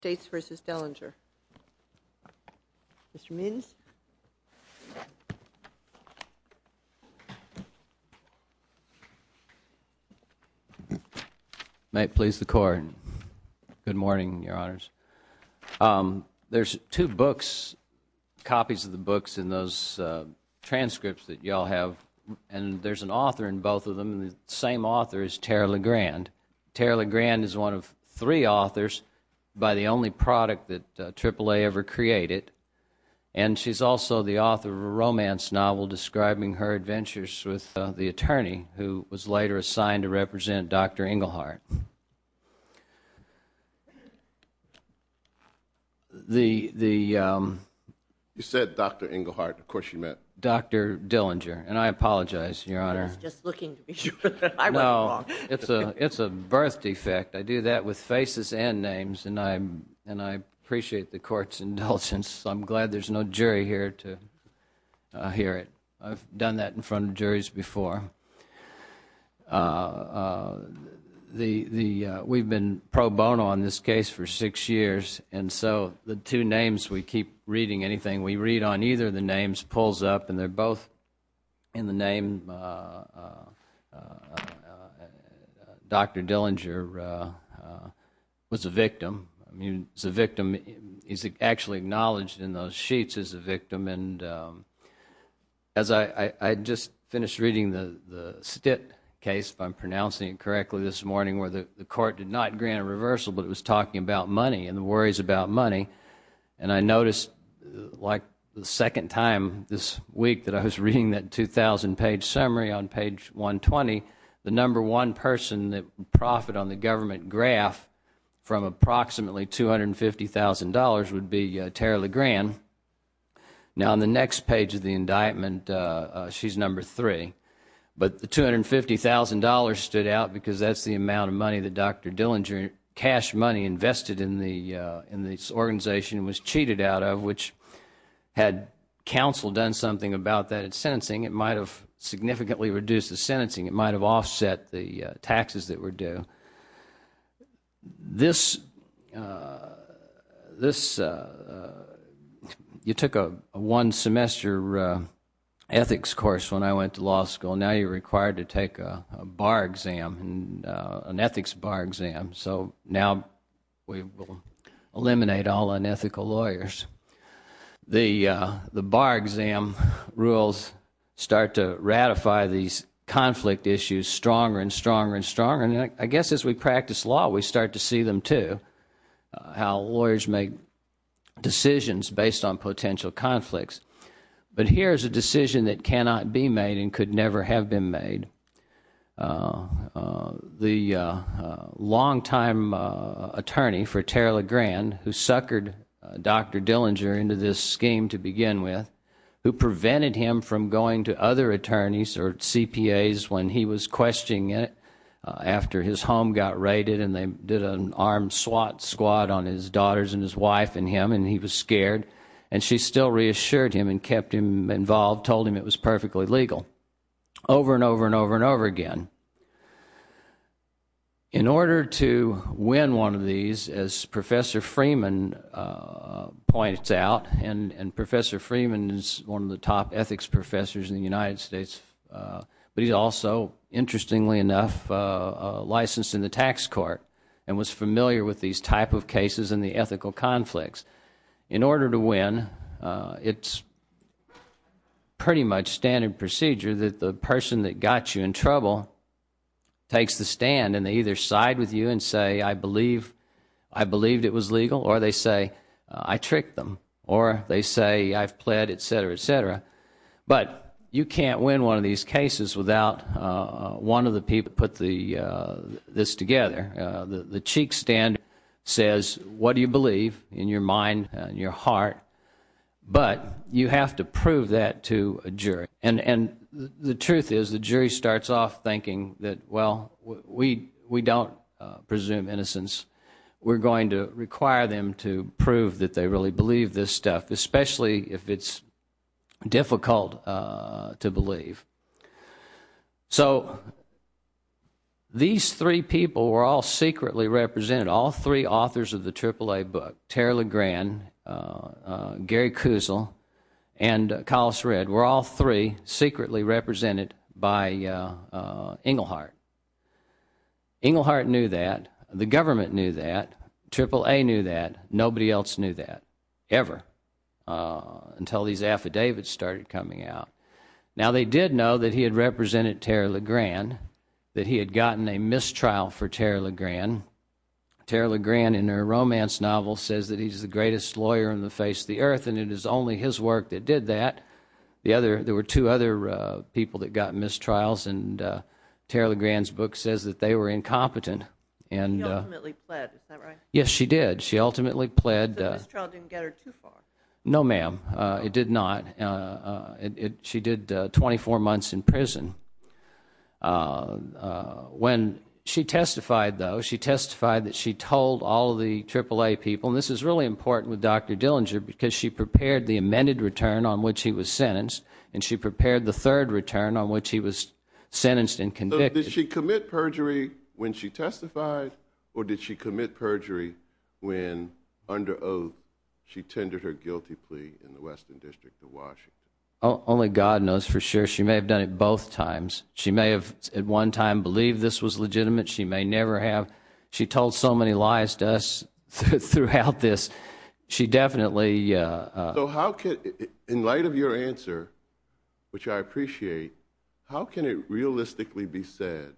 States v. Dehlinger. Mr. Minns. May it please the court. Good morning, your honors. There's two books, copies of the books in those transcripts that y'all have and there's an author in both of them and the same author is Tara Legrand. Tara Legrand is one of three authors by the only product that AAA ever created and she's also the author of a romance novel describing her adventures with the attorney who was later assigned to represent Dr. Engelhardt. The, the um... You said Dr. Engelhardt, of course you meant... Dr. Dehlinger and I apologize, your honor. I was just looking to be sure that I went wrong. No, it's a birth defect. I do that with faces and names and I appreciate the court's indulgence. I'm glad there's no jury here to hear it. I've done that in front of juries before. Uh... We've been pro bono on this case for six years and so the two names we keep reading anything we read on either of the names pulls up and they're both in the name uh... Dr. Dehlinger was a victim. I mean, he's a victim. He's actually acknowledged in those sheets as a victim and um... As I, I just finished reading the, the Stitt case if I'm pronouncing it correctly this morning where the court did not grant a reversal but it was talking about money and the worries about money and I noticed like the second time this week that I was reading that two thousand page summary on page one twenty the number one person that profit on the government graph from approximately two hundred fifty thousand dollars would be uh... Tara LeGrand. Now on the next page of the indictment uh... she's number three but the two hundred fifty thousand dollars stood out because that's the amount of money that Dr. Dehlinger, cash money invested in the uh... in this organization was cheated out of which had counsel done something about that in sentencing it might have significantly reduced the sentencing. It might have offset the uh... taxes that were due. This uh... this uh... you took a one semester uh... ethics course when I went to law school now you're required to take a bar exam and uh... an ethics bar exam so now we will eliminate all unethical lawyers. The uh... the bar exam rules start to ratify these conflict issues stronger and stronger and stronger and I guess as we practice law we start to see them too how lawyers make decisions based on potential conflicts but here's a decision that cannot be made and could never have been made uh... uh... the uh... long-time uh... attorney for Tara LeGrand who suckered Dr. Dehlinger into this scheme to begin with who prevented him from going to other attorneys or CPAs when he was questioning it uh... after his home got raided and they did an armed SWAT squad on his daughters and his wife and him and he was scared and she still reassured him and kept him involved told him it was perfectly legal over and over and over and over again in order to win one of these as professor Freeman uh... points out and and professor Freeman is one of the top ethics professors in the United States but he also interestingly enough uh... licensed in the tax court and was familiar with these type of cases in the ethical conflicts in order to win uh... it's pretty much standard procedure that the person that got you in trouble takes the stand and they either side with you and say I believe I believed it was legal or they say I tricked them or they say I've pled etc etc but you can't win one of these cases without uh... one of the people put the uh... this together uh... the the cheek stand says what do you believe in your mind and your heart but you have to prove that to a jury and and the truth is the jury starts off thinking that well we we don't uh... presume innocence we're going to require them to prove that they really believe this stuff especially if it's difficult uh... to believe so these three people were all secretly represented all three authors of the triple-a book terry legrand uh... uh... gary kuzel and uh... colas red were all three secretly represented by uh... uh... inglehart inglehart knew that the government knew that triple-a knew that nobody else knew that uh... until these affidavits started coming out now they did know that he had represented terry legrand that he had gotten a mistrial for terry legrand terry legrand in her romance novel says that he's the greatest lawyer in the face the earth and it is only his work that did that the other there were two other uh... people that got mistrials and uh... terry legrand's book says that they were incompetent and uh... yes she did she ultimately pled uh... no ma'am uh... it did not uh... it she did uh... twenty four months in prison uh... uh... when she testified though she testified that she told all the triple-a people this is really important with doctor dillinger because she prepared the amended return on which he was sentenced and she prepared the third return on which he was sentenced and convicted did she commit perjury when she testified or did she commit perjury when under oath she tendered her guilty plea in the western district of washington only god knows for sure she may have done it both times she may have at one time believe this was legitimate she may never have she told so many lies to us throughout this she definitely uh... so how could in light of your answer which i appreciate how can it realistically be said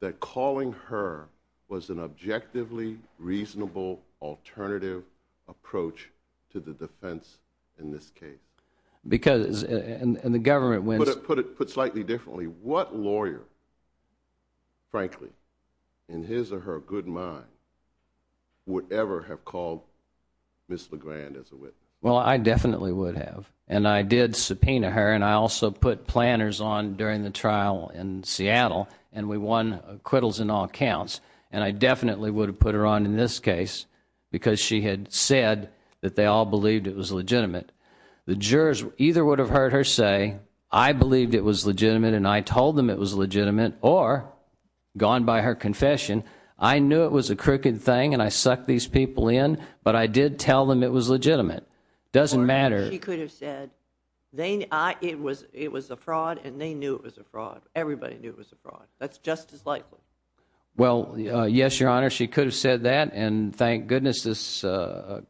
that calling her was an objectively reasonable alternative approach to the defense in this case because uh... and and the government would have put it put slightly differently what lawyer in his or her good mind would ever have called miss legrand as a witness well i definitely would have and i did subpoena her and i also put planners on during the trial in seattle and we won acquittals in all counts and i definitely would have put her on in this case because she had said that they all believed it was legitimate the jurors either would have heard her say i believed it was legitimate and i told them it was legitimate or gone by her confession i knew it was a crooked thing and i suck these people in but i did tell them it was legitimate doesn't matter if you could have said they not it was it was a fraud and they knew it was a fraud everybody knew it was a fraud that's just as likely well uh... yes your honor she could have said that and thank goodness this uh...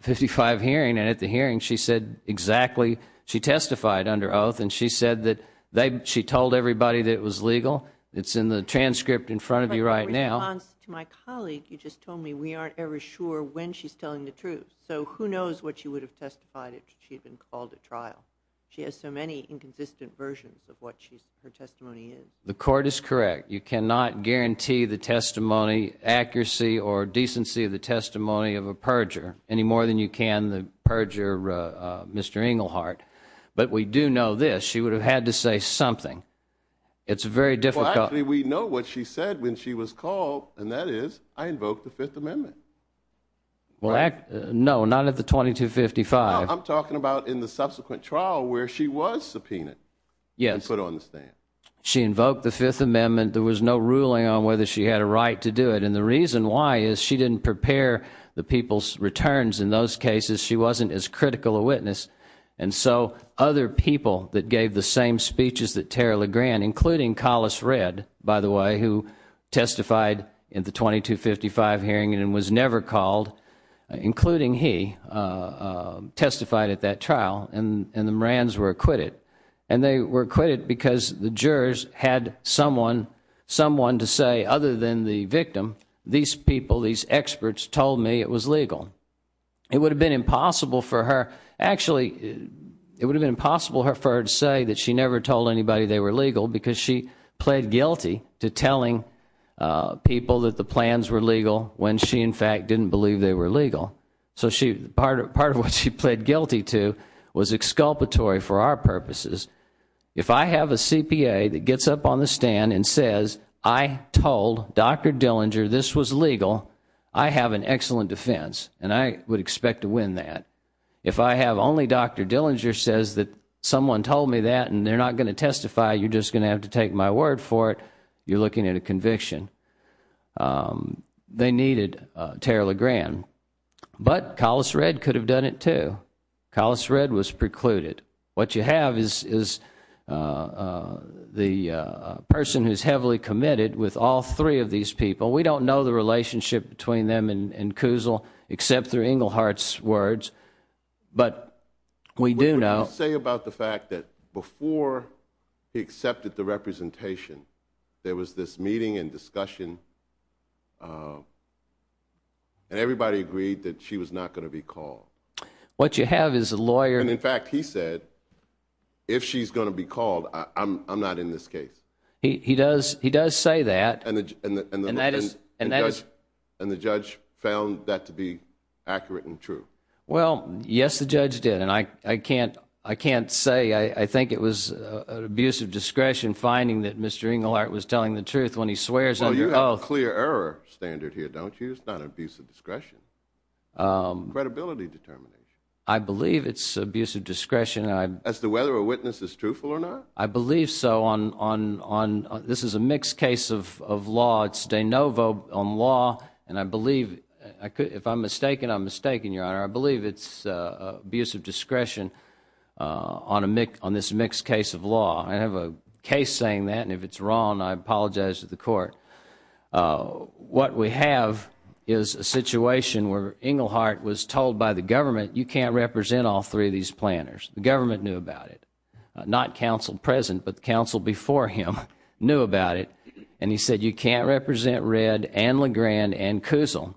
fifty five hearing and at the hearing she said exactly she testified under oath and she said that they'd she told everybody that was legal it's in the transcript in front of you right now my colleague you just told me we aren't ever sure when she's telling the truth so who knows what you would have testified she'd been called at trial she has so many inconsistent versions of what she's her testimony is the court is correct you cannot guarantee the testimony accuracy or more than you can the purger uh... mister inglehart but we do know this she would have had to say something it's very difficult we know what she said when she was called and that is i invoked the fifth amendment well act no not at the twenty two fifty five i'm talking about in the subsequent trial where she was subpoenaed yes put on the stand she invoked the fifth amendment there was no ruling on whether she had a right to do it and the reason why is she didn't prepare the people's returns in those cases she wasn't as critical a witness and so other people that gave the same speeches that tara legrand including collis red by the way who testified in the twenty two fifty five hearing and was never called including he uh... testified at that trial and and the marines were acquitted and they were quite it because the jurors had someone someone to say other than the victim these people these experts told me it was legal it would've been impossible for her actually it would've been possible for her to say that she never told anybody they were legal because she pled guilty to telling uh... people that the plans were legal when she in fact didn't believe they were legal so she part of part of what she pled guilty to was exculpatory for our purposes if i have a cpa that gets up on the stand and says i told doctor dillinger this was legal i have an excellent defense and i would expect to win that if i have only doctor dillinger says that someone told me that and they're not going to testify you just gonna have to take my word for it you're looking at a conviction uh... they needed uh... tara legrand but collis red could have done it too collis red was precluded what you have is is uh... the uh... person who's heavily committed with all three of these people we don't know the relationship between them and and kuzel except through inglehart's words we do know say about the fact that before he accepted the representation there was this meeting and discussion and everybody agreed that she was not going to be called what you have is a lawyer and in fact he said if she's going to be called uh... i'm i'm not in this case he he does he does say that image and that and that is and that is and the judge found that to be accurate and true well yes the judge did and i i can't i can't say i i think it was uh... abuse of discretion finding that mister inglehart was telling the truth when he swears under oath well you have a clear error standard here don't you it's not abuse of discretion uh... credibility determination i believe it's abuse of discretion as to whether a witness is truthful or not i believe so on on on this is a mixed case of of law it's de novo on law and i believe if i'm mistaken i'm mistaken your honor i believe it's uh... abuse of discretion uh... on this mixed case of law i have a case saying that and if it's wrong i apologize to the court uh... what we have is a situation where inglehart was told by the government you can represent all three of these planners the government knew about it uh... not counsel present but counsel before him knew about it and he said you can't represent red and legrand and kuzul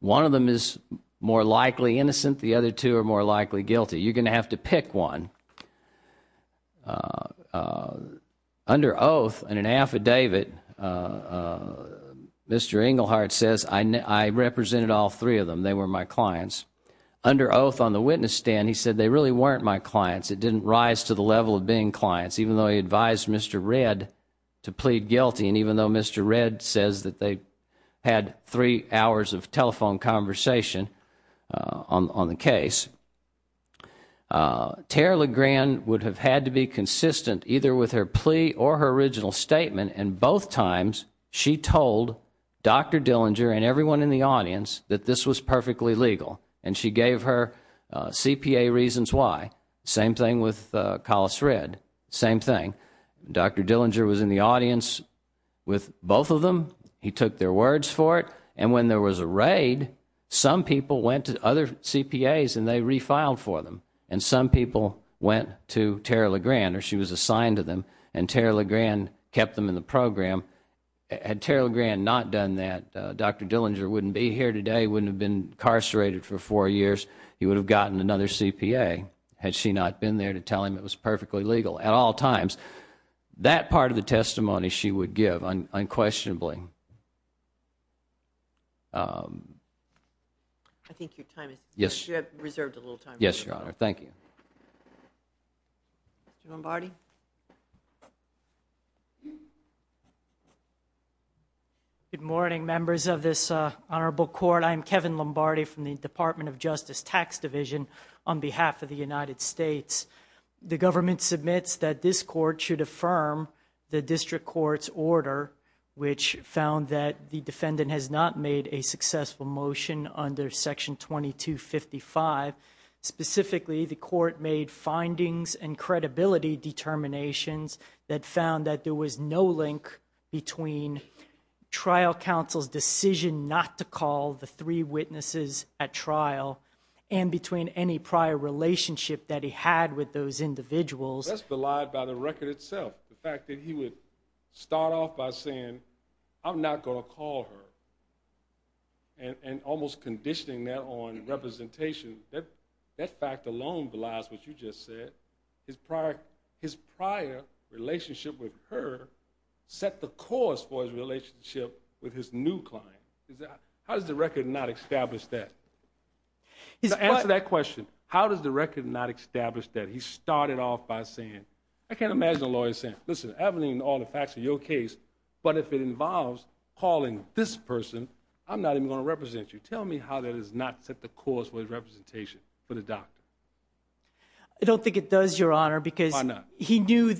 one of them is more likely innocent the other two are more likely guilty you're gonna have to pick one uh... uh... under oath and an affidavit uh... mister inglehart says i know i represented all three of them they were my clients under oath on the witness stand he said they really weren't my clients it didn't rise to the level of being clients even though he advised mister red to plead guilty and even though mister red says that they had three hours of telephone conversation uh... on on the case uh... terry legrand would have had to be consistent either with her plea or her statement and both times she told doctor dillinger and everyone in the audience that this was perfectly legal and she gave her uh... cpa reasons why same thing with uh... callous red same thing doctor dillinger was in the audience with both of them he took their words for it and when there was a raid some people went to other cpas and they refiled for them and some people went to terry legrand or she was assigned to them and terry legrand kept them in the program had terry legrand not done that uh... doctor dillinger wouldn't be here today wouldn't have been incarcerated for four years he would have gotten another cpa had she not been there to tell him it was perfectly legal at all times that part of the testimony she would give unquestionably uh... i think your time is yes your honor thank you good morning members of this uh... honorable court i'm kevin lombardi from the department of justice tax division on behalf of the united states the government submits that this court should affirm the district court's order which found that the defendant has not made a successful motion under section twenty two fifty five specifically the court made findings and credibility determinations that found that there was no link between trial counsel's decision not to call the three witnesses at trial and between any prior relationship that he had with those individuals that's belied by the record itself the fact that he would start off by saying i'm not going to call her and almost conditioning that on representation that fact alone belies what you just said his prior relationship with her set the course for his relationship with his new client how does the record not establish that to answer that question how does the record not establish that he started off by saying i can't imagine a lawyer saying listen i don't need all the facts of your case but if it involves calling this person i'm not even going to represent you tell me how that is not set the course for his representation for the doctor i don't think it does your honor because he knew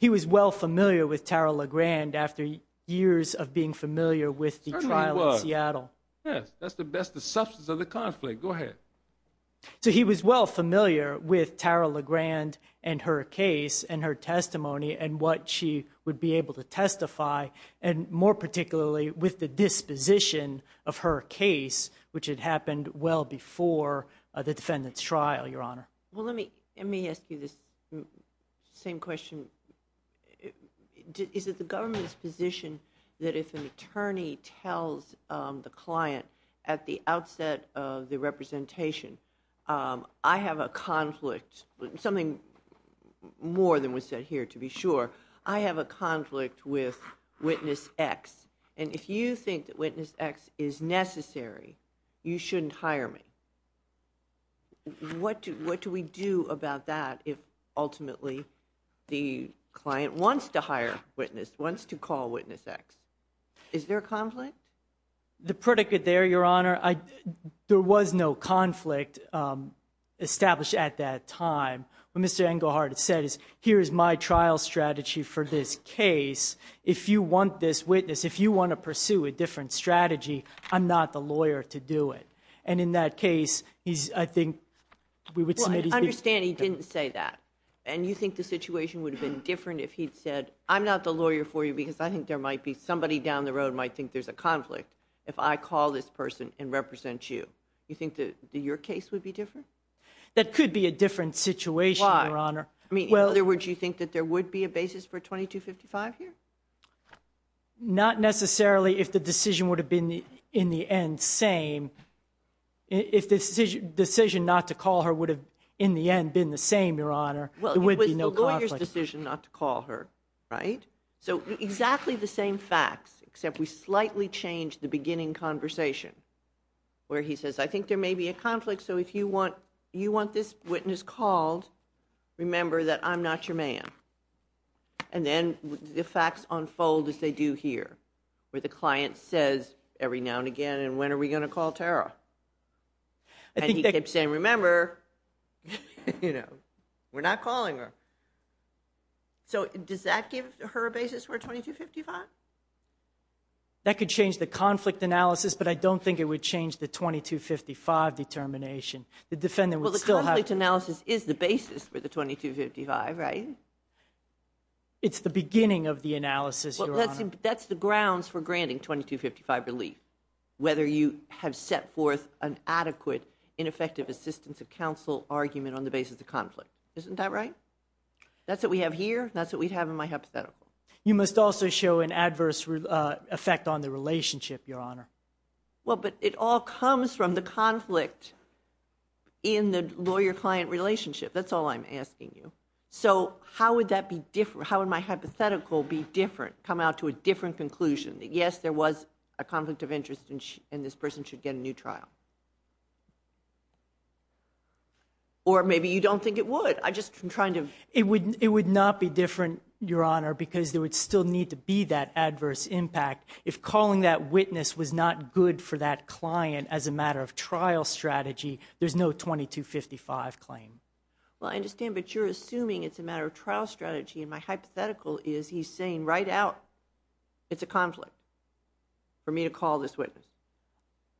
he was well familiar with tara lagrand after years of being familiar with the trial in seattle yes that's the best the substance of the conflict go ahead so he was well familiar with tara lagrand and her case and her testimony and what she would be able to testify and more particularly with the disposition of her case which had happened well before the defendant's trial your honor let me ask you this same question is it the government's position that if an attorney tells uh... the client at the outset of the representation uh... i have a conflict something more than was said here to be sure i have a conflict with witness x and if you think that witness x is necessary you shouldn't hire me what do we do about that ultimately the client wants to hire witness wants to call witness x is there a conflict the predicate there your honor there was no conflict uh... established at that time what mr engelhardt said is here's my trial strategy for this case if you want this witness if you want to pursue a different strategy i'm not the lawyer to do it and in that case he's i think well i understand he didn't say that and you think the situation would have been different if he'd said i'm not the lawyer for you because i think there might be somebody down the road might think there's a conflict if i call this person and represent you you think that your case would be different that could be a different situation your honor i mean in other words you think that there would be a basis for 2255 here not necessarily if the decision would have been in the end same if the decision not to call her would have in the end been the same your honor well it was the lawyer's decision not to call her right so exactly the same facts except we slightly change the beginning conversation where he says i think there may be a conflict so if you want you want this witness called remember that i'm not your man and then the facts unfold as they do here where the client says every now and again and when are we going to call tara and he kept saying remember we're not calling her so does that give her a basis for 2255 that could change the conflict analysis but i don't think it would change the 2255 determination the defendant would still have well the conflict analysis is the basis for the 2255 right it's the beginning of the analysis your honor that's the grounds for granting 2255 relief whether you have set forth an adequate ineffective assistance of counsel argument on the basis of conflict isn't that right that's what we have here that's what we have in my hypothetical you must also show an adverse effect on the relationship your honor well but it all comes from the conflict in the lawyer client relationship that's all i'm asking you so how would that be different how would my hypothetical be different come out to a different conclusion that yes there was a conflict of interest and this person should get a new trial or maybe you don't think it would i just i'm trying to it would it would not be different your honor because there would still need to be that adverse impact if calling that witness was not good for that client as a matter of trial strategy there's no 2255 claim well i understand but you're assuming it's a matter of trial strategy and my hypothetical is he's saying right out it's a conflict for me to call this witness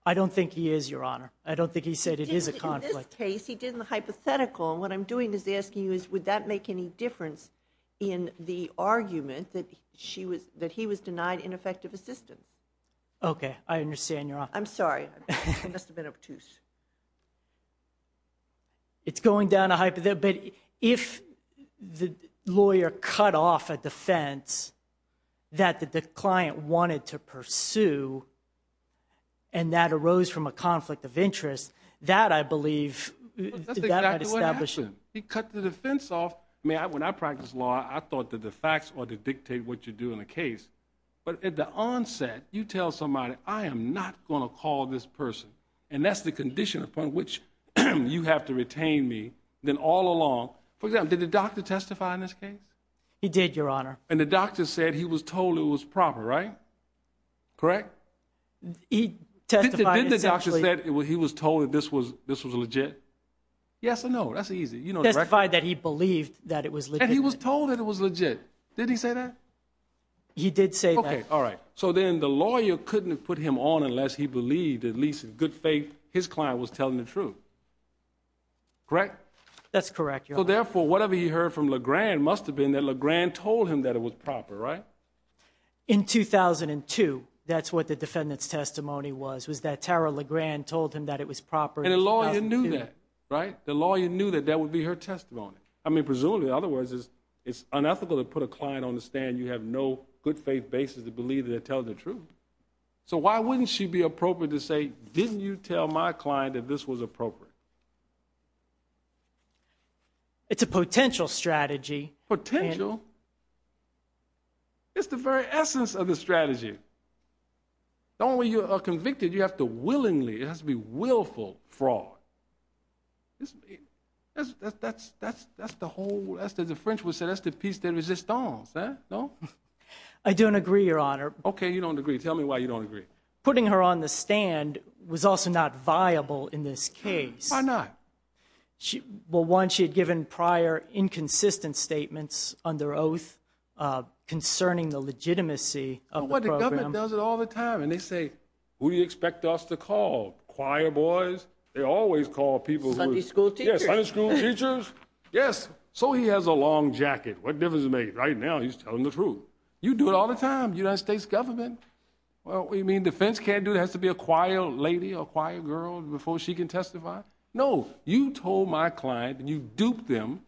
i don't think he is your honor i don't think he said it is a conflict case he did in the hypothetical and what i'm doing is asking you is would that make any difference in the argument that she was that he was denied ineffective assistance okay i understand you're on i'm sorry it must have been obtuse it's going down a hypothetical but if the lawyer cut off a defense that the client wanted to pursue and that arose from a conflict of interest that i believe that what happened he cut the defense off i mean i when i practiced law i thought that the facts ought to dictate what you do in a case but at the onset you tell somebody i am not going to call this person and that's the condition upon which you have to retain me then all along for example did the doctor testify in this case he did your honor and the doctor said he was told it was proper right correct he testified that he was told that this was this was legit yes or no that's easy you know testified that he believed that it was and he was told that it was legit did he say that he did say okay all right so then the lawyer couldn't have put him on unless he believed at least in good faith his client was telling the truth correct that's correct so therefore whatever he heard from lagran must have been that lagran told him that it was proper right in 2002 that's what the defendant's testimony was was that tara lagran told him that it was proper and the lawyer knew that right the lawyer knew that that would be her testimony i mean presumably in other words is it's unethical to put a client on the stand you have no good faith basis to believe that they're telling the truth so why wouldn't she be appropriate to say didn't you tell my client that this was appropriate it's a potential strategy potential it's the very essence of the strategy the only way you are convicted you have to willingly it has to be willful fraud that's that's that's that's the whole that's the differential said that's the piece de resistance no i don't agree your honor okay you don't agree tell me why you don't agree putting her on the stand was also not viable in this case why not she well once she had given prior inconsistent statements under oath uh concerning the legitimacy of what the government does it all the time and they say who do you expect us to call choir boys they always call people who are school teachers yes so he has a long jacket what difference is made right now he's telling the truth you do it all the time united states government well what you mean defense can't do it has to be a quiet lady or quiet girl before she can testify no you told my client and you duped them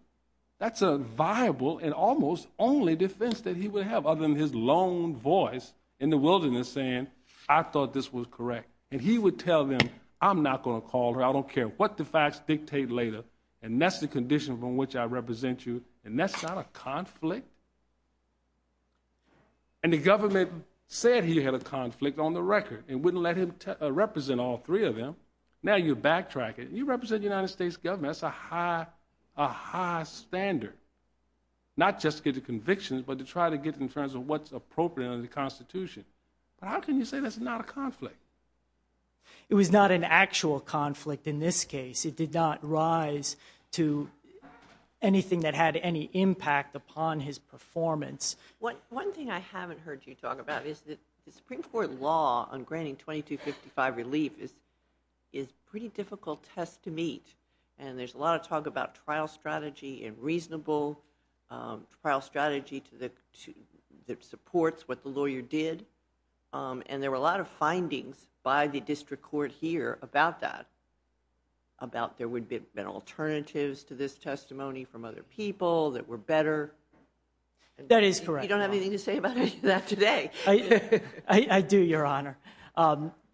that's a viable and almost only defense that he would have other than his lone voice in the wilderness saying i thought this was correct and he would tell them i'm not going to call her i don't care what the facts dictate later and that's the condition from which i represent you and that's not a conflict and the government said he had a conflict on the record and wouldn't let him represent all three of them now you backtrack it you represent united states government that's a high a high standard not just to get the convictions but to try to get in terms of what's appropriate under the constitution but how can you say that's not a conflict it was not an actual conflict in this case it did not rise to anything that had any impact upon his performance what one thing i haven't heard you talk about is that the supreme court law on granting 2255 relief is is pretty difficult test to meet and there's a lot of talk about trial strategy and reasonable trial strategy to the two that supports what the lawyer did and there were a lot of findings by the district court here about that about there would be been alternatives to this testimony from other people that were better that is correct you don't have your honor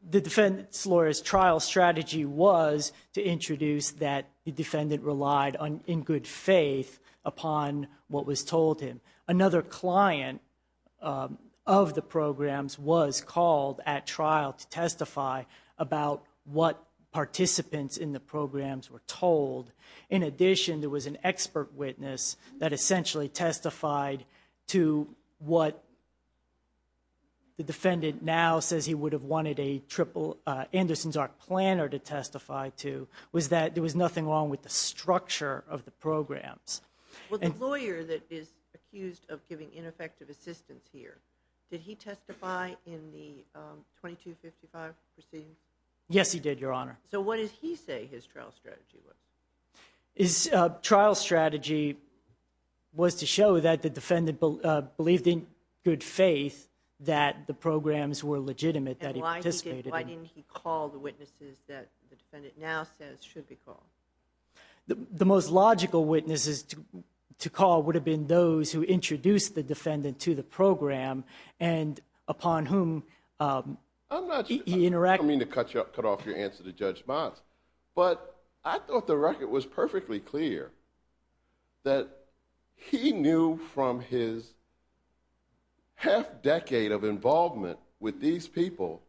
the defendant's lawyers trial strategy was to introduce that the defendant relied on in good faith upon what was told him another client of the programs was called at trial to testify about what participants in the programs were told in addition there was an expert witness that essentially testified to what the defendant now says he would have wanted a triple uh anderson's arc planner to testify to was that there was nothing wrong with the structure of the programs well the lawyer that is accused of giving ineffective assistance here did he testify in the 2255 proceedings yes he did your honor so what does he say his trial strategy was his trial strategy was to show that the defendant believed in good faith that the programs were legitimate that he participated why didn't he call the witnesses that the defendant now says should be called the most logical witnesses to to call would have been those who introduced the defendant to the program and upon whom um i'm not he interacted i mean to cut you up cut off your judgment but i thought the record was perfectly clear that he knew from his half decade of involvement with these people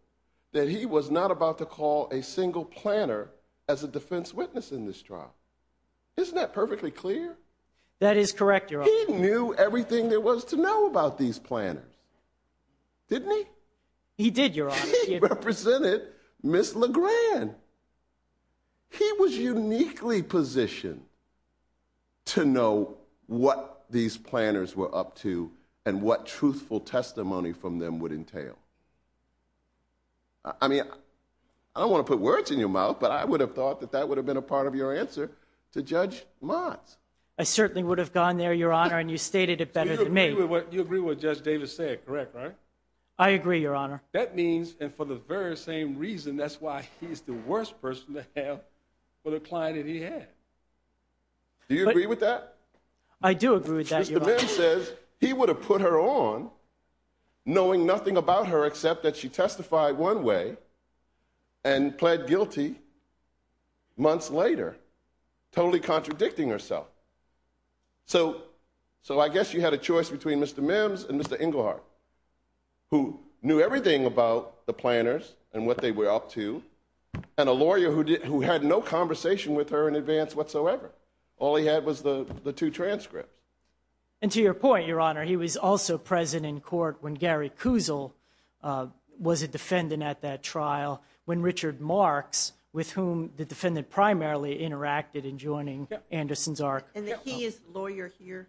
that he was not about to call a single planner as a defense witness in this trial isn't that perfectly clear that is correct he knew everything there was to know about these planners didn't he he did your honor he represented miss legrand he was uniquely positioned to know what these planners were up to and what truthful testimony from them would entail i mean i don't want to put words in your mouth but i would have thought that that would have been a part of your answer to judge mods i certainly would have gone there your honor and you stated it better than me what you agree with judge davis said correct right i agree your honor that means and for the very same reason that's why he's the worst person to have for the client that he had do you agree with that i do agree with that the man says he would have put her on knowing nothing about her except that she testified one way and pled guilty months later totally contradicting herself so so i guess you had a choice between mr mims and mr inglehart who knew everything about the planners and what they were up to and a lawyer who did who had no conversation with her in advance whatsoever all he had was the the two transcripts and to your point your honor he was also present in court when gary kuzel uh was a defendant at that trial when richard marx with whom the defendant primarily interacted in joining anderson's arc and he is lawyer here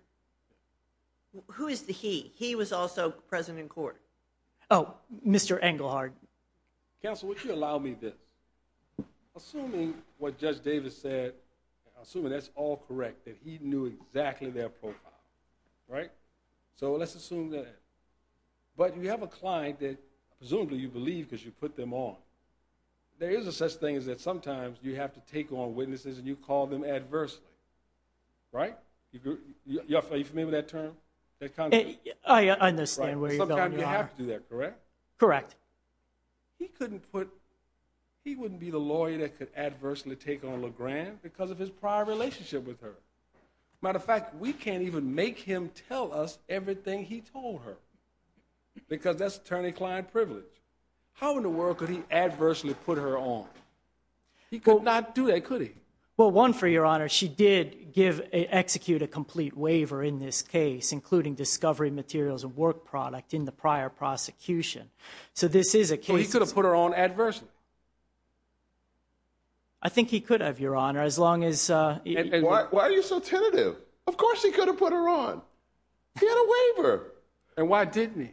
who is the he he was also present in court oh mr engelhardt counsel would you allow me this assuming what judge davis said assuming that's all correct that he knew exactly their profile right so let's assume that but you have a client that presumably you believe because you put them on there is a such thing as that sometimes you have to take on witnesses and you call them adversely right you're familiar with that term that kind of i understand where you have to do that correct correct he couldn't put he wouldn't be the lawyer that could adversely take on legrand because of his prior relationship with her matter of fact we can't even make him tell us everything he told her because that's attorney client privilege how in the world could he adversely put her on he could not do that could he well one for your honor she did give a execute a complete waiver in this case including discovery materials of work product in the prior prosecution so this is a case he could have put her on adversity i think he could have your honor as long as uh why are you so tentative of course he could have put her on he had a waiver and why didn't he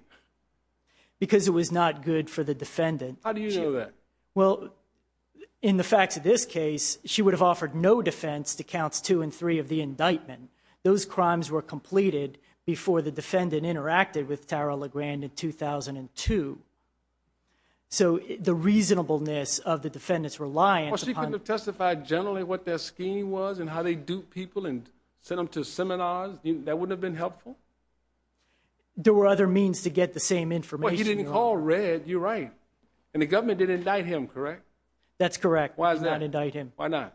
because it was not good for the defendant how do you know that well in the facts of this case she would have offered no defense to counts two and three of the indictment those crimes were completed before the defendant interacted with tara legrand in 2002 so the reasonableness of the defendant's reliance she could have testified generally what their scheme was and how they do people and send them to seminars that wouldn't have been helpful there were other means to get the same information well he didn't call red you're right and the government did indict him correct that's correct why is that why not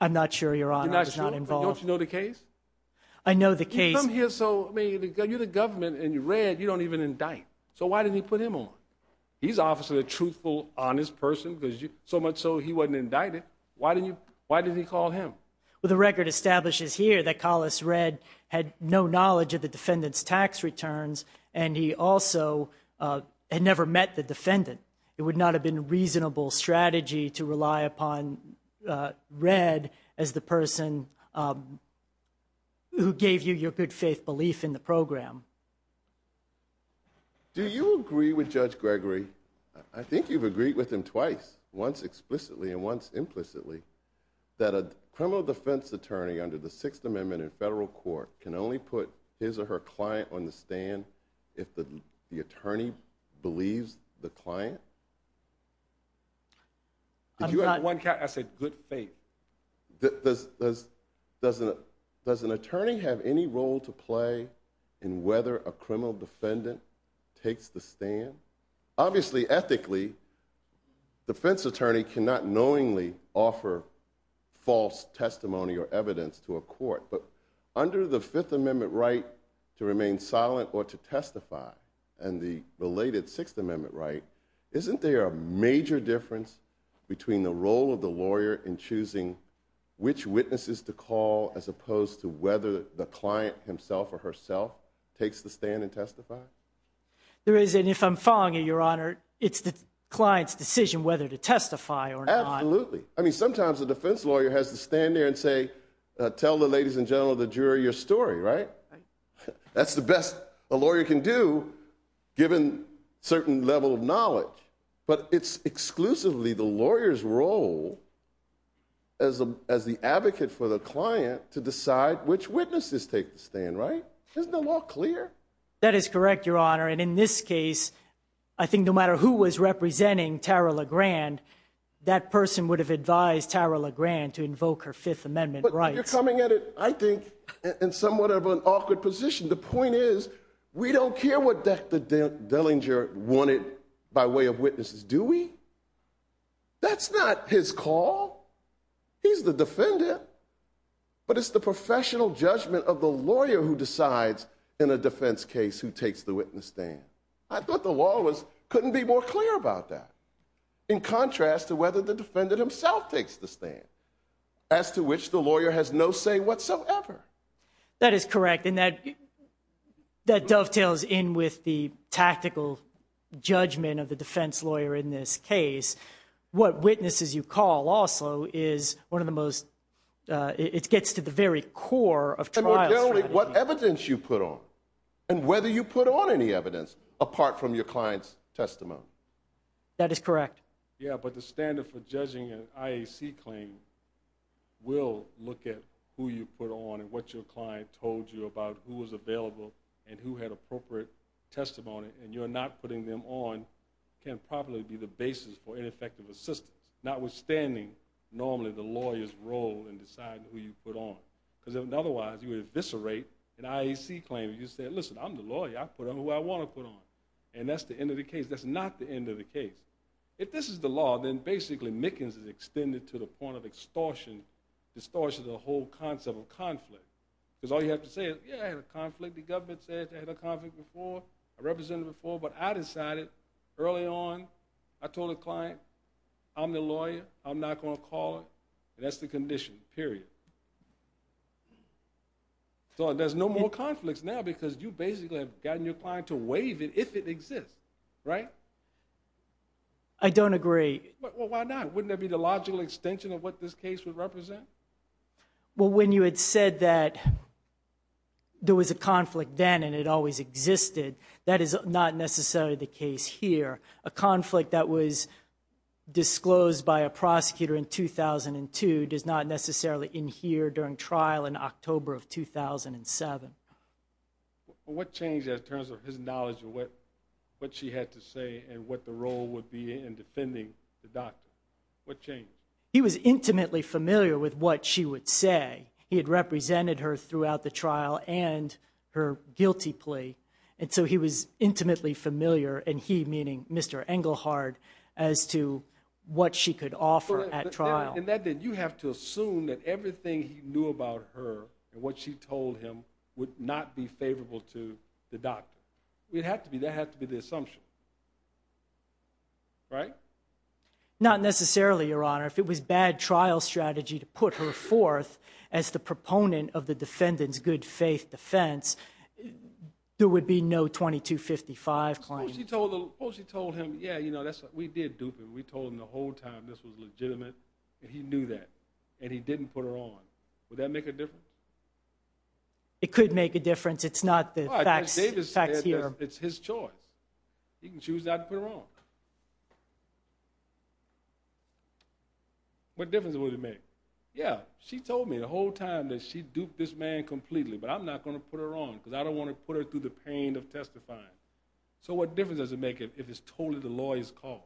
i'm not sure your honor is not involved don't you know the case i know the case i'm here so i mean you're the government and you read you don't even indict so why didn't he put him on he's obviously a truthful honest person because you so much so he wasn't indicted why didn't you why did he call him well the record establishes here that collis red had no knowledge of the defendant's tax returns and he also uh had never met the defendant it would not have been reasonable strategy to rely upon uh red as the person who gave you your good faith belief in the program do you agree with judge gregory i think you've agreed with him twice once explicitly and once implicitly that a criminal defense attorney under the sixth amendment in federal court can only put his or her client on the stand if the attorney believes the client i'm not one cat i said good faith does does doesn't does an attorney have any role to play in whether a criminal defendant takes the stand obviously ethically defense attorney cannot knowingly offer false testimony or evidence to a court but under the fifth amendment right to remain silent or to testify and the related sixth amendment right isn't there a major difference between the role of the lawyer in choosing which witnesses to call as opposed to whether the client himself or herself takes the stand and testify there is and if i'm following your honor it's the client's decision whether to testify or not absolutely i mean sometimes the defense lawyer has to stand there and say uh tell the ladies in general the jury your story right that's the best a lawyer can do given certain level of knowledge but it's exclusively the lawyer's role as a as the advocate for the client to decide which witnesses take the stand isn't the law clear that is correct your honor and in this case i think no matter who was representing tara legrand that person would have advised tara legrand to invoke her fifth amendment right you're coming at it i think in somewhat of an awkward position the point is we don't care what dr dellinger wanted by way of witnesses do we that's not his call he's the defendant but it's the professional judgment of the lawyer who decides in a defense case who takes the witness stand i thought the law was couldn't be more clear about that in contrast to whether the defendant himself takes the stand as to which the lawyer has no say whatsoever that is correct and that that dovetails in with the tactical judgment of the is one of the most uh it gets to the very core of what evidence you put on and whether you put on any evidence apart from your client's testimony that is correct yeah but the standard for judging an iac claim will look at who you put on and what your client told you about who was available and who had appropriate testimony and you're not putting them on can probably be the basis for normally the lawyer's role in deciding who you put on because otherwise you would eviscerate an iac claim you said listen i'm the lawyer i put on who i want to put on and that's the end of the case that's not the end of the case if this is the law then basically mickens is extended to the point of extortion distortion of the whole concept of conflict because all you have to say is yeah i had a conflict the government said i had a conflict before i represented before but i decided early on i told the client i'm the lawyer i'm not going to call it and that's the condition period so there's no more conflicts now because you basically have gotten your client to waive it if it exists right i don't agree well why not wouldn't that be the logical extension of what this case would represent well when you had said that there was a conflict then and it always existed that is not necessarily the case here a conflict that was disclosed by a prosecutor in 2002 does not necessarily in here during trial in october of 2007 what changed in terms of his knowledge of what what she had to say and what the role would be in defending the doctor what changed he was intimately familiar with what she would say he had represented her throughout the and so he was intimately familiar and he meaning mr engelhard as to what she could offer at trial and that then you have to assume that everything he knew about her and what she told him would not be favorable to the doctor it had to be that had to be the assumption right not necessarily your honor if it was bad trial strategy to put her forth as the proponent of the defendant's good faith defense there would be no 2255 claims she told him oh she told him yeah you know that's what we did do but we told him the whole time this was legitimate and he knew that and he didn't put her on would that make a difference it could make a difference it's not the facts facts here it's his choice he can choose not to put her on what difference would it make yeah she told me the duped this man completely but i'm not going to put her on because i don't want to put her through the pain of testifying so what difference does it make if it's totally the lawyer's call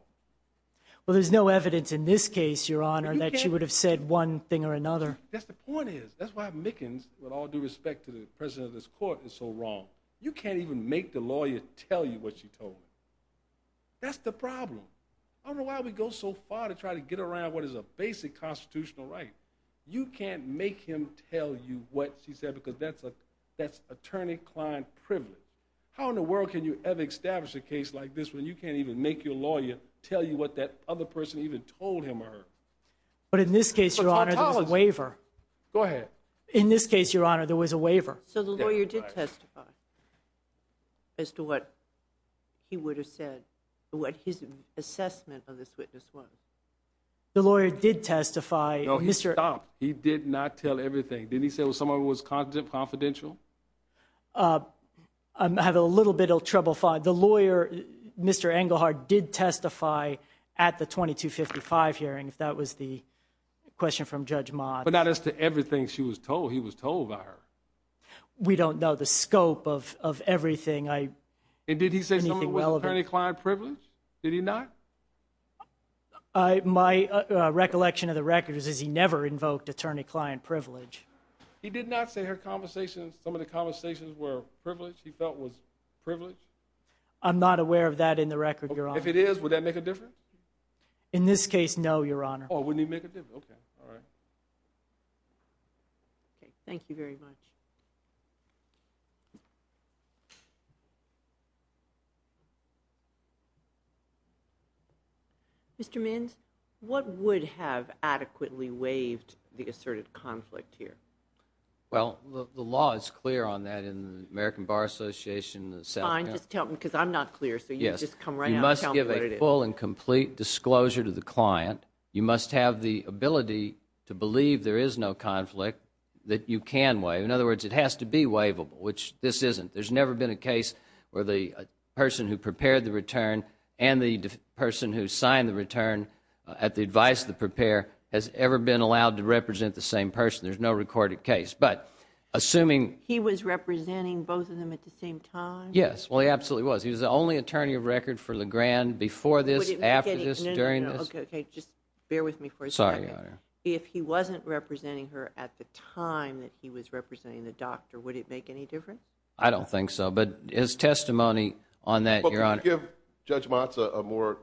well there's no evidence in this case your honor that you would have said one thing or another that's the point is that's why mickens with all due respect to the president of this court is so wrong you can't even make the lawyer tell you what she told that's the problem i don't know why we go so what she said because that's a that's attorney client privilege how in the world can you ever establish a case like this when you can't even make your lawyer tell you what that other person even told him or her but in this case your honor the waiver go ahead in this case your honor there was a waiver so the lawyer did testify as to what he would have said what his assessment of this confidential uh i have a little bit of trouble the lawyer mr engelhardt did testify at the 2255 hearing if that was the question from judge mott but not as to everything she was told he was told by her we don't know the scope of of everything i and did he say something with attorney client privilege did he not i my recollection of the records is he never invoked attorney client privilege he did not say her conversations some of the conversations were privileged he felt was privileged i'm not aware of that in the record your honor if it is would that make a difference in this case no your honor oh wouldn't even make a difference okay all right okay thank you very much you mr mins what would have adequately waived the asserted conflict here well the law is clear on that in the american bar association the sound just tell them because i'm not clear so you just come right now you must give a full and complete disclosure to the client you must have the ability to believe there is no conflict that you can wave in other words it has to be waivable which this isn't there's never been a case where the person who prepared the return and the person who signed the return at the advice that prepare has ever been allowed to represent the same person there's no recorded case but assuming he was representing both of them at the same time yes well he absolutely was he was the only attorney of record for the grand before this after this during this okay okay just bear with me for a second if he wasn't representing her at the time that he was I don't think so but his testimony on that your honor give judge motz a more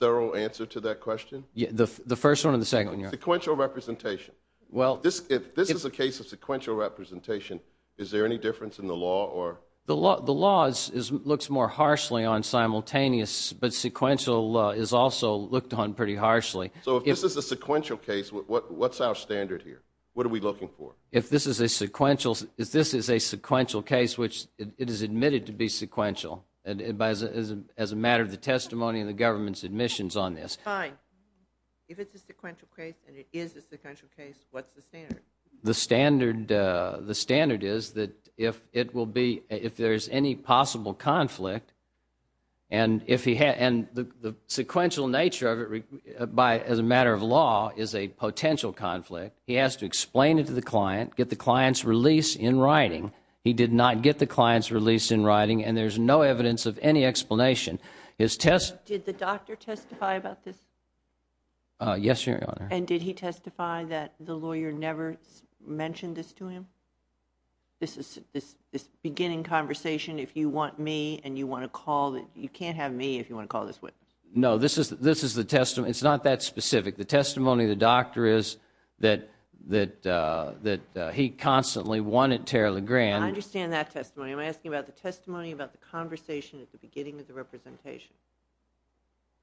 thorough answer to that question yeah the the first one and the second sequential representation well this if this is a case of sequential representation is there any difference in the law or the law the laws is looks more harshly on simultaneous but sequential is also looked on pretty harshly so if this is a sequential case what what's our standard here what are we looking for if this is a sequential if this is a sequential case which it is admitted to be sequential and as a matter of the testimony of the government's admissions on this fine if it's a sequential case and it is a sequential case what's the standard the standard uh the standard is that if it will be if there's any possible conflict and if he had and the the sequential nature of it by as a matter of law is a potential conflict he has to explain it to the client get the client's release in writing he did not get the client's release in writing and there's no evidence of any explanation his test did the doctor testify about this uh yes your honor and did he testify that the lawyer never mentioned this to him this is this this beginning conversation if you want me and you want to call that you can't have me if you want to call this witness no this is this is the testimony it's not that specific the testimony the doctor is that that uh that he constantly wanted tarry legrand i understand that testimony i'm asking about the testimony about the conversation at the beginning of the representation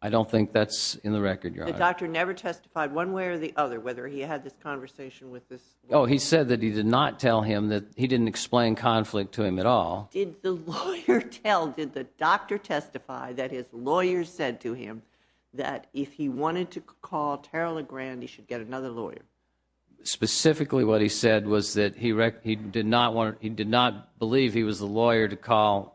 i don't think that's in the record your doctor never testified one way or the other whether he had this conversation with this oh he said that he did not tell him that he didn't explain conflict to him at all did the lawyer tell did the doctor testify that his lawyer said to him that if he wanted to call tarry legrand he should get another lawyer specifically what he said was that he wrecked he did not want he did not believe he was the lawyer to call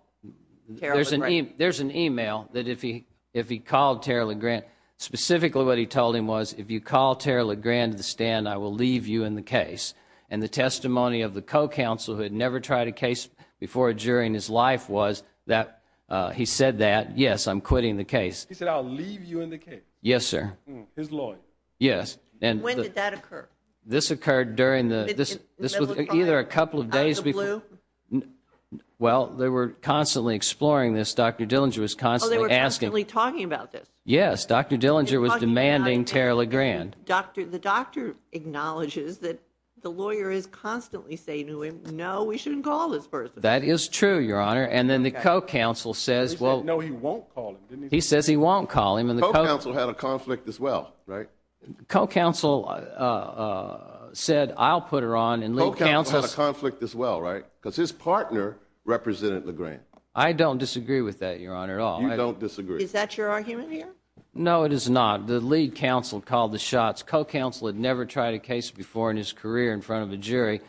there's an email there's an email that if he if he called tarry legrand specifically what he told him was if you call tarry legrand to the stand i will leave you in the case and the testimony of the co-counsel who had never tried a case before during his life was that uh he said that yes i'm quitting the case he said i'll leave you in the case yes sir his lawyer yes and when did that occur this occurred during the this this was either a couple of days before well they were constantly exploring this dr dillinger was constantly asking me talking about this yes dr dillinger was demanding tarry legrand doctor the doctor acknowledges that the lawyer is constantly saying to him no we shouldn't call this person that is true your honor and then the co-counsel says well no he won't call him he says he won't call him and the co-counsel had a conflict as well right co-counsel uh said i'll put her on and little council had a conflict as well right because his partner represented legrand i don't disagree with that your honor at all i don't disagree is that your argument here no it is not the lead counsel called the shots co-counsel had never tried a case before in his career in front of a jury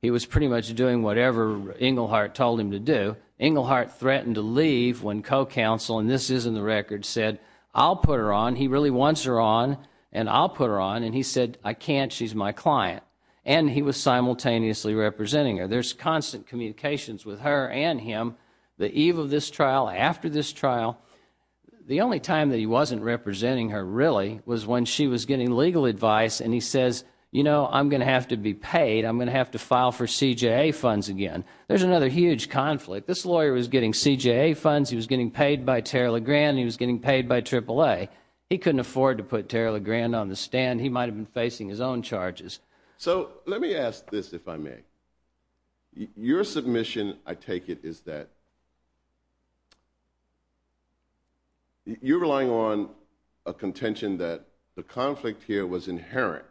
he was pretty much doing whatever inglehart told him to do inglehart threatened to leave when co-counsel and this is in the record said i'll put her on he really wants her on and i'll put her on and he said i can't she's my client and he was simultaneously representing her there's constant communications with her and him the eve of this trial after this trial the only time that he wasn't representing her really was when she was getting legal advice and he says you know i'm gonna have to be paid i'm gonna have to there's another huge conflict this lawyer was getting cja funds he was getting paid by tara legrand he was getting paid by triple a he couldn't afford to put tara legrand on the stand he might have been facing his own charges so let me ask this if i may your submission i take it is that you're relying on a contention that the conflict here was inherent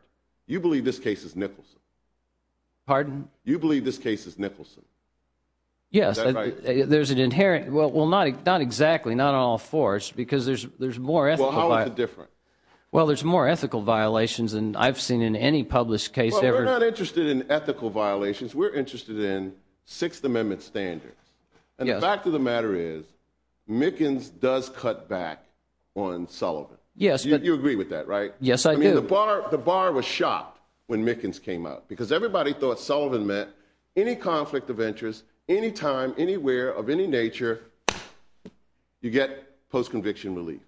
you believe this case is yes there's an inherent well well not not exactly not all forced because there's there's more ethical different well there's more ethical violations and i've seen in any published case ever we're not interested in ethical violations we're interested in sixth amendment standards and the fact of the matter is mickens does cut back on sullivan yes you agree with that right yes i mean the bar the bar was shot when mickens came out because everybody thought sullivan met any conflict of interest any time anywhere of any nature you get post-conviction relief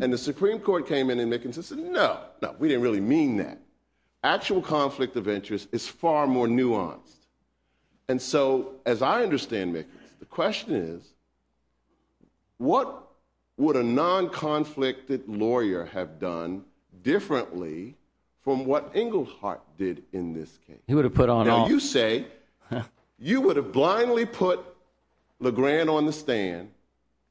and the supreme court came in and mickinson said no no we didn't really mean that actual conflict of interest is far more nuanced and so as i understand mick the question is what would a non-conflicted lawyer have done differently from what engelhardt did in this case he would have you say you would have blindly put legrand on the stand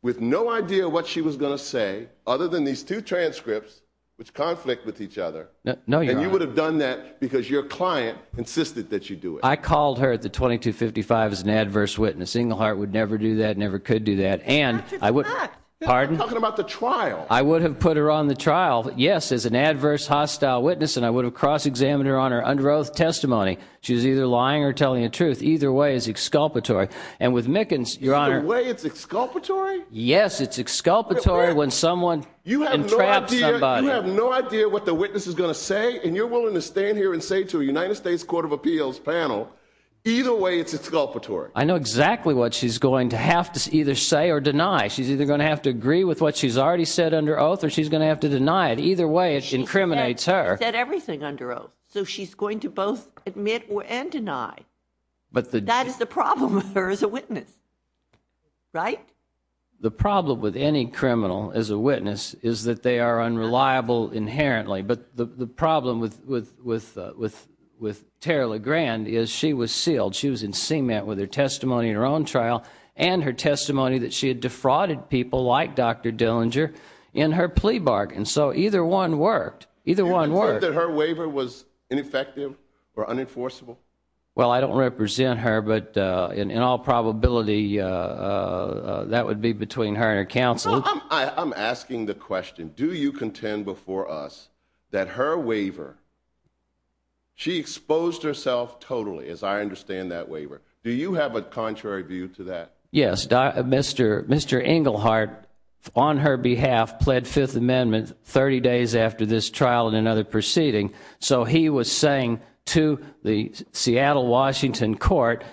with no idea what she was going to say other than these two transcripts which conflict with each other no you would have done that because your client insisted that you do it i called her at the 22 55 as an adverse witness engelhardt would never do that never could do that and i would pardon talking about the trial i would have put her on the trial yes as an adverse hostile witness and i would have cross-examined her on her under oath testimony she's either lying or telling the truth either way is exculpatory and with mickens your honor way it's exculpatory yes it's exculpatory when someone you have no idea what the witness is going to say and you're willing to stand here and say to a united states court of appeals panel either way it's exculpatory i know exactly what she's going to have to either say or deny she's either going to have to agree with what she's already said under oath or she's way it incriminates her said everything under oath so she's going to both admit and deny but that is the problem with her as a witness right the problem with any criminal as a witness is that they are unreliable inherently but the the problem with with with with with tara legrand is she was sealed she was in cement with her testimony in her own trial and her testimony that she had defrauded people like dr dillinger in her plea bargain so either one worked either one worked that her waiver was ineffective or unenforceable well i don't represent her but uh in all probability uh that would be between her and her counsel i'm asking the question do you contend before us that her waiver she exposed herself totally as i understand that waiver do you have a contrary view to that yes mr mr engelhardt on her behalf pled fifth amendment 30 days after this trial and another proceeding so he was saying to the seattle washington court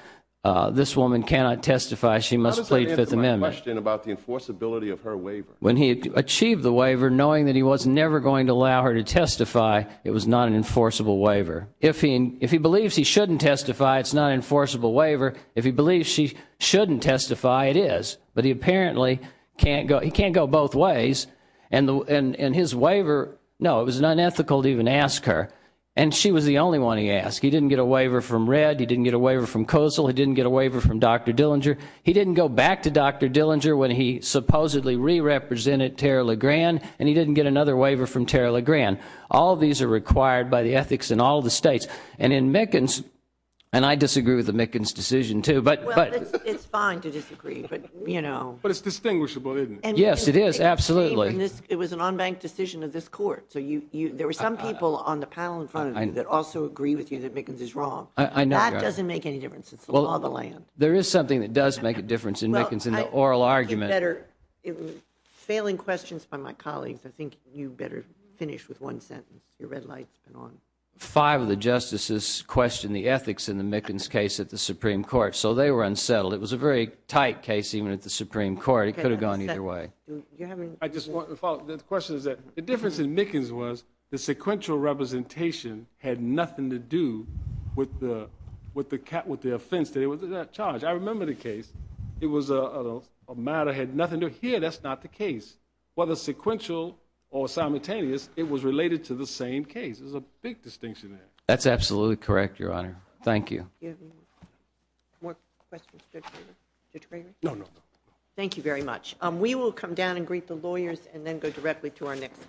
uh this woman cannot testify she must plead fifth amendment question about the enforceability of her waiver when he achieved the waiver knowing that he was never going to allow her to testify it was not an enforceable waiver if he if he believes he shouldn't testify it's not an enforceable waiver if he believes she shouldn't testify it is but he apparently can't go he can't go both ways and and and his waiver no it was unethical to even ask her and she was the only one he asked he didn't get a waiver from red he didn't get a waiver from kosal he didn't get a waiver from dr dillinger he didn't go back to dr dillinger when he supposedly re-represented tara lagran and he didn't get another waiver from tara lagran all these are required by the ethics in all the states and in mickens and i disagree with the mickens decision too but but it's fine to disagree but you know but it's distinguishable isn't it yes it is absolutely this it was an unbanked decision of this court so you you there were some people on the panel in front of you that also agree with you that mickens is wrong i know that doesn't make any difference it's all the land there is something that does make a difference in mickens in the oral argument better in failing questions by my colleagues i think you better finish with one sentence your red light's been on five of the justices question the ethics in the mickens case at the supreme court so they were unsettled it was a very tight case even at the supreme court it could have gone either way i just want to follow the question is that the difference in mickens was the sequential representation had nothing to do with the with the cat with the offense that it was that charge i remember the case it was a matter had nothing to here that's not the case whether sequential or simultaneous it was related to the same case there's a big more questions no no thank you very much um we will come down and greet the lawyers and then go directly to our next case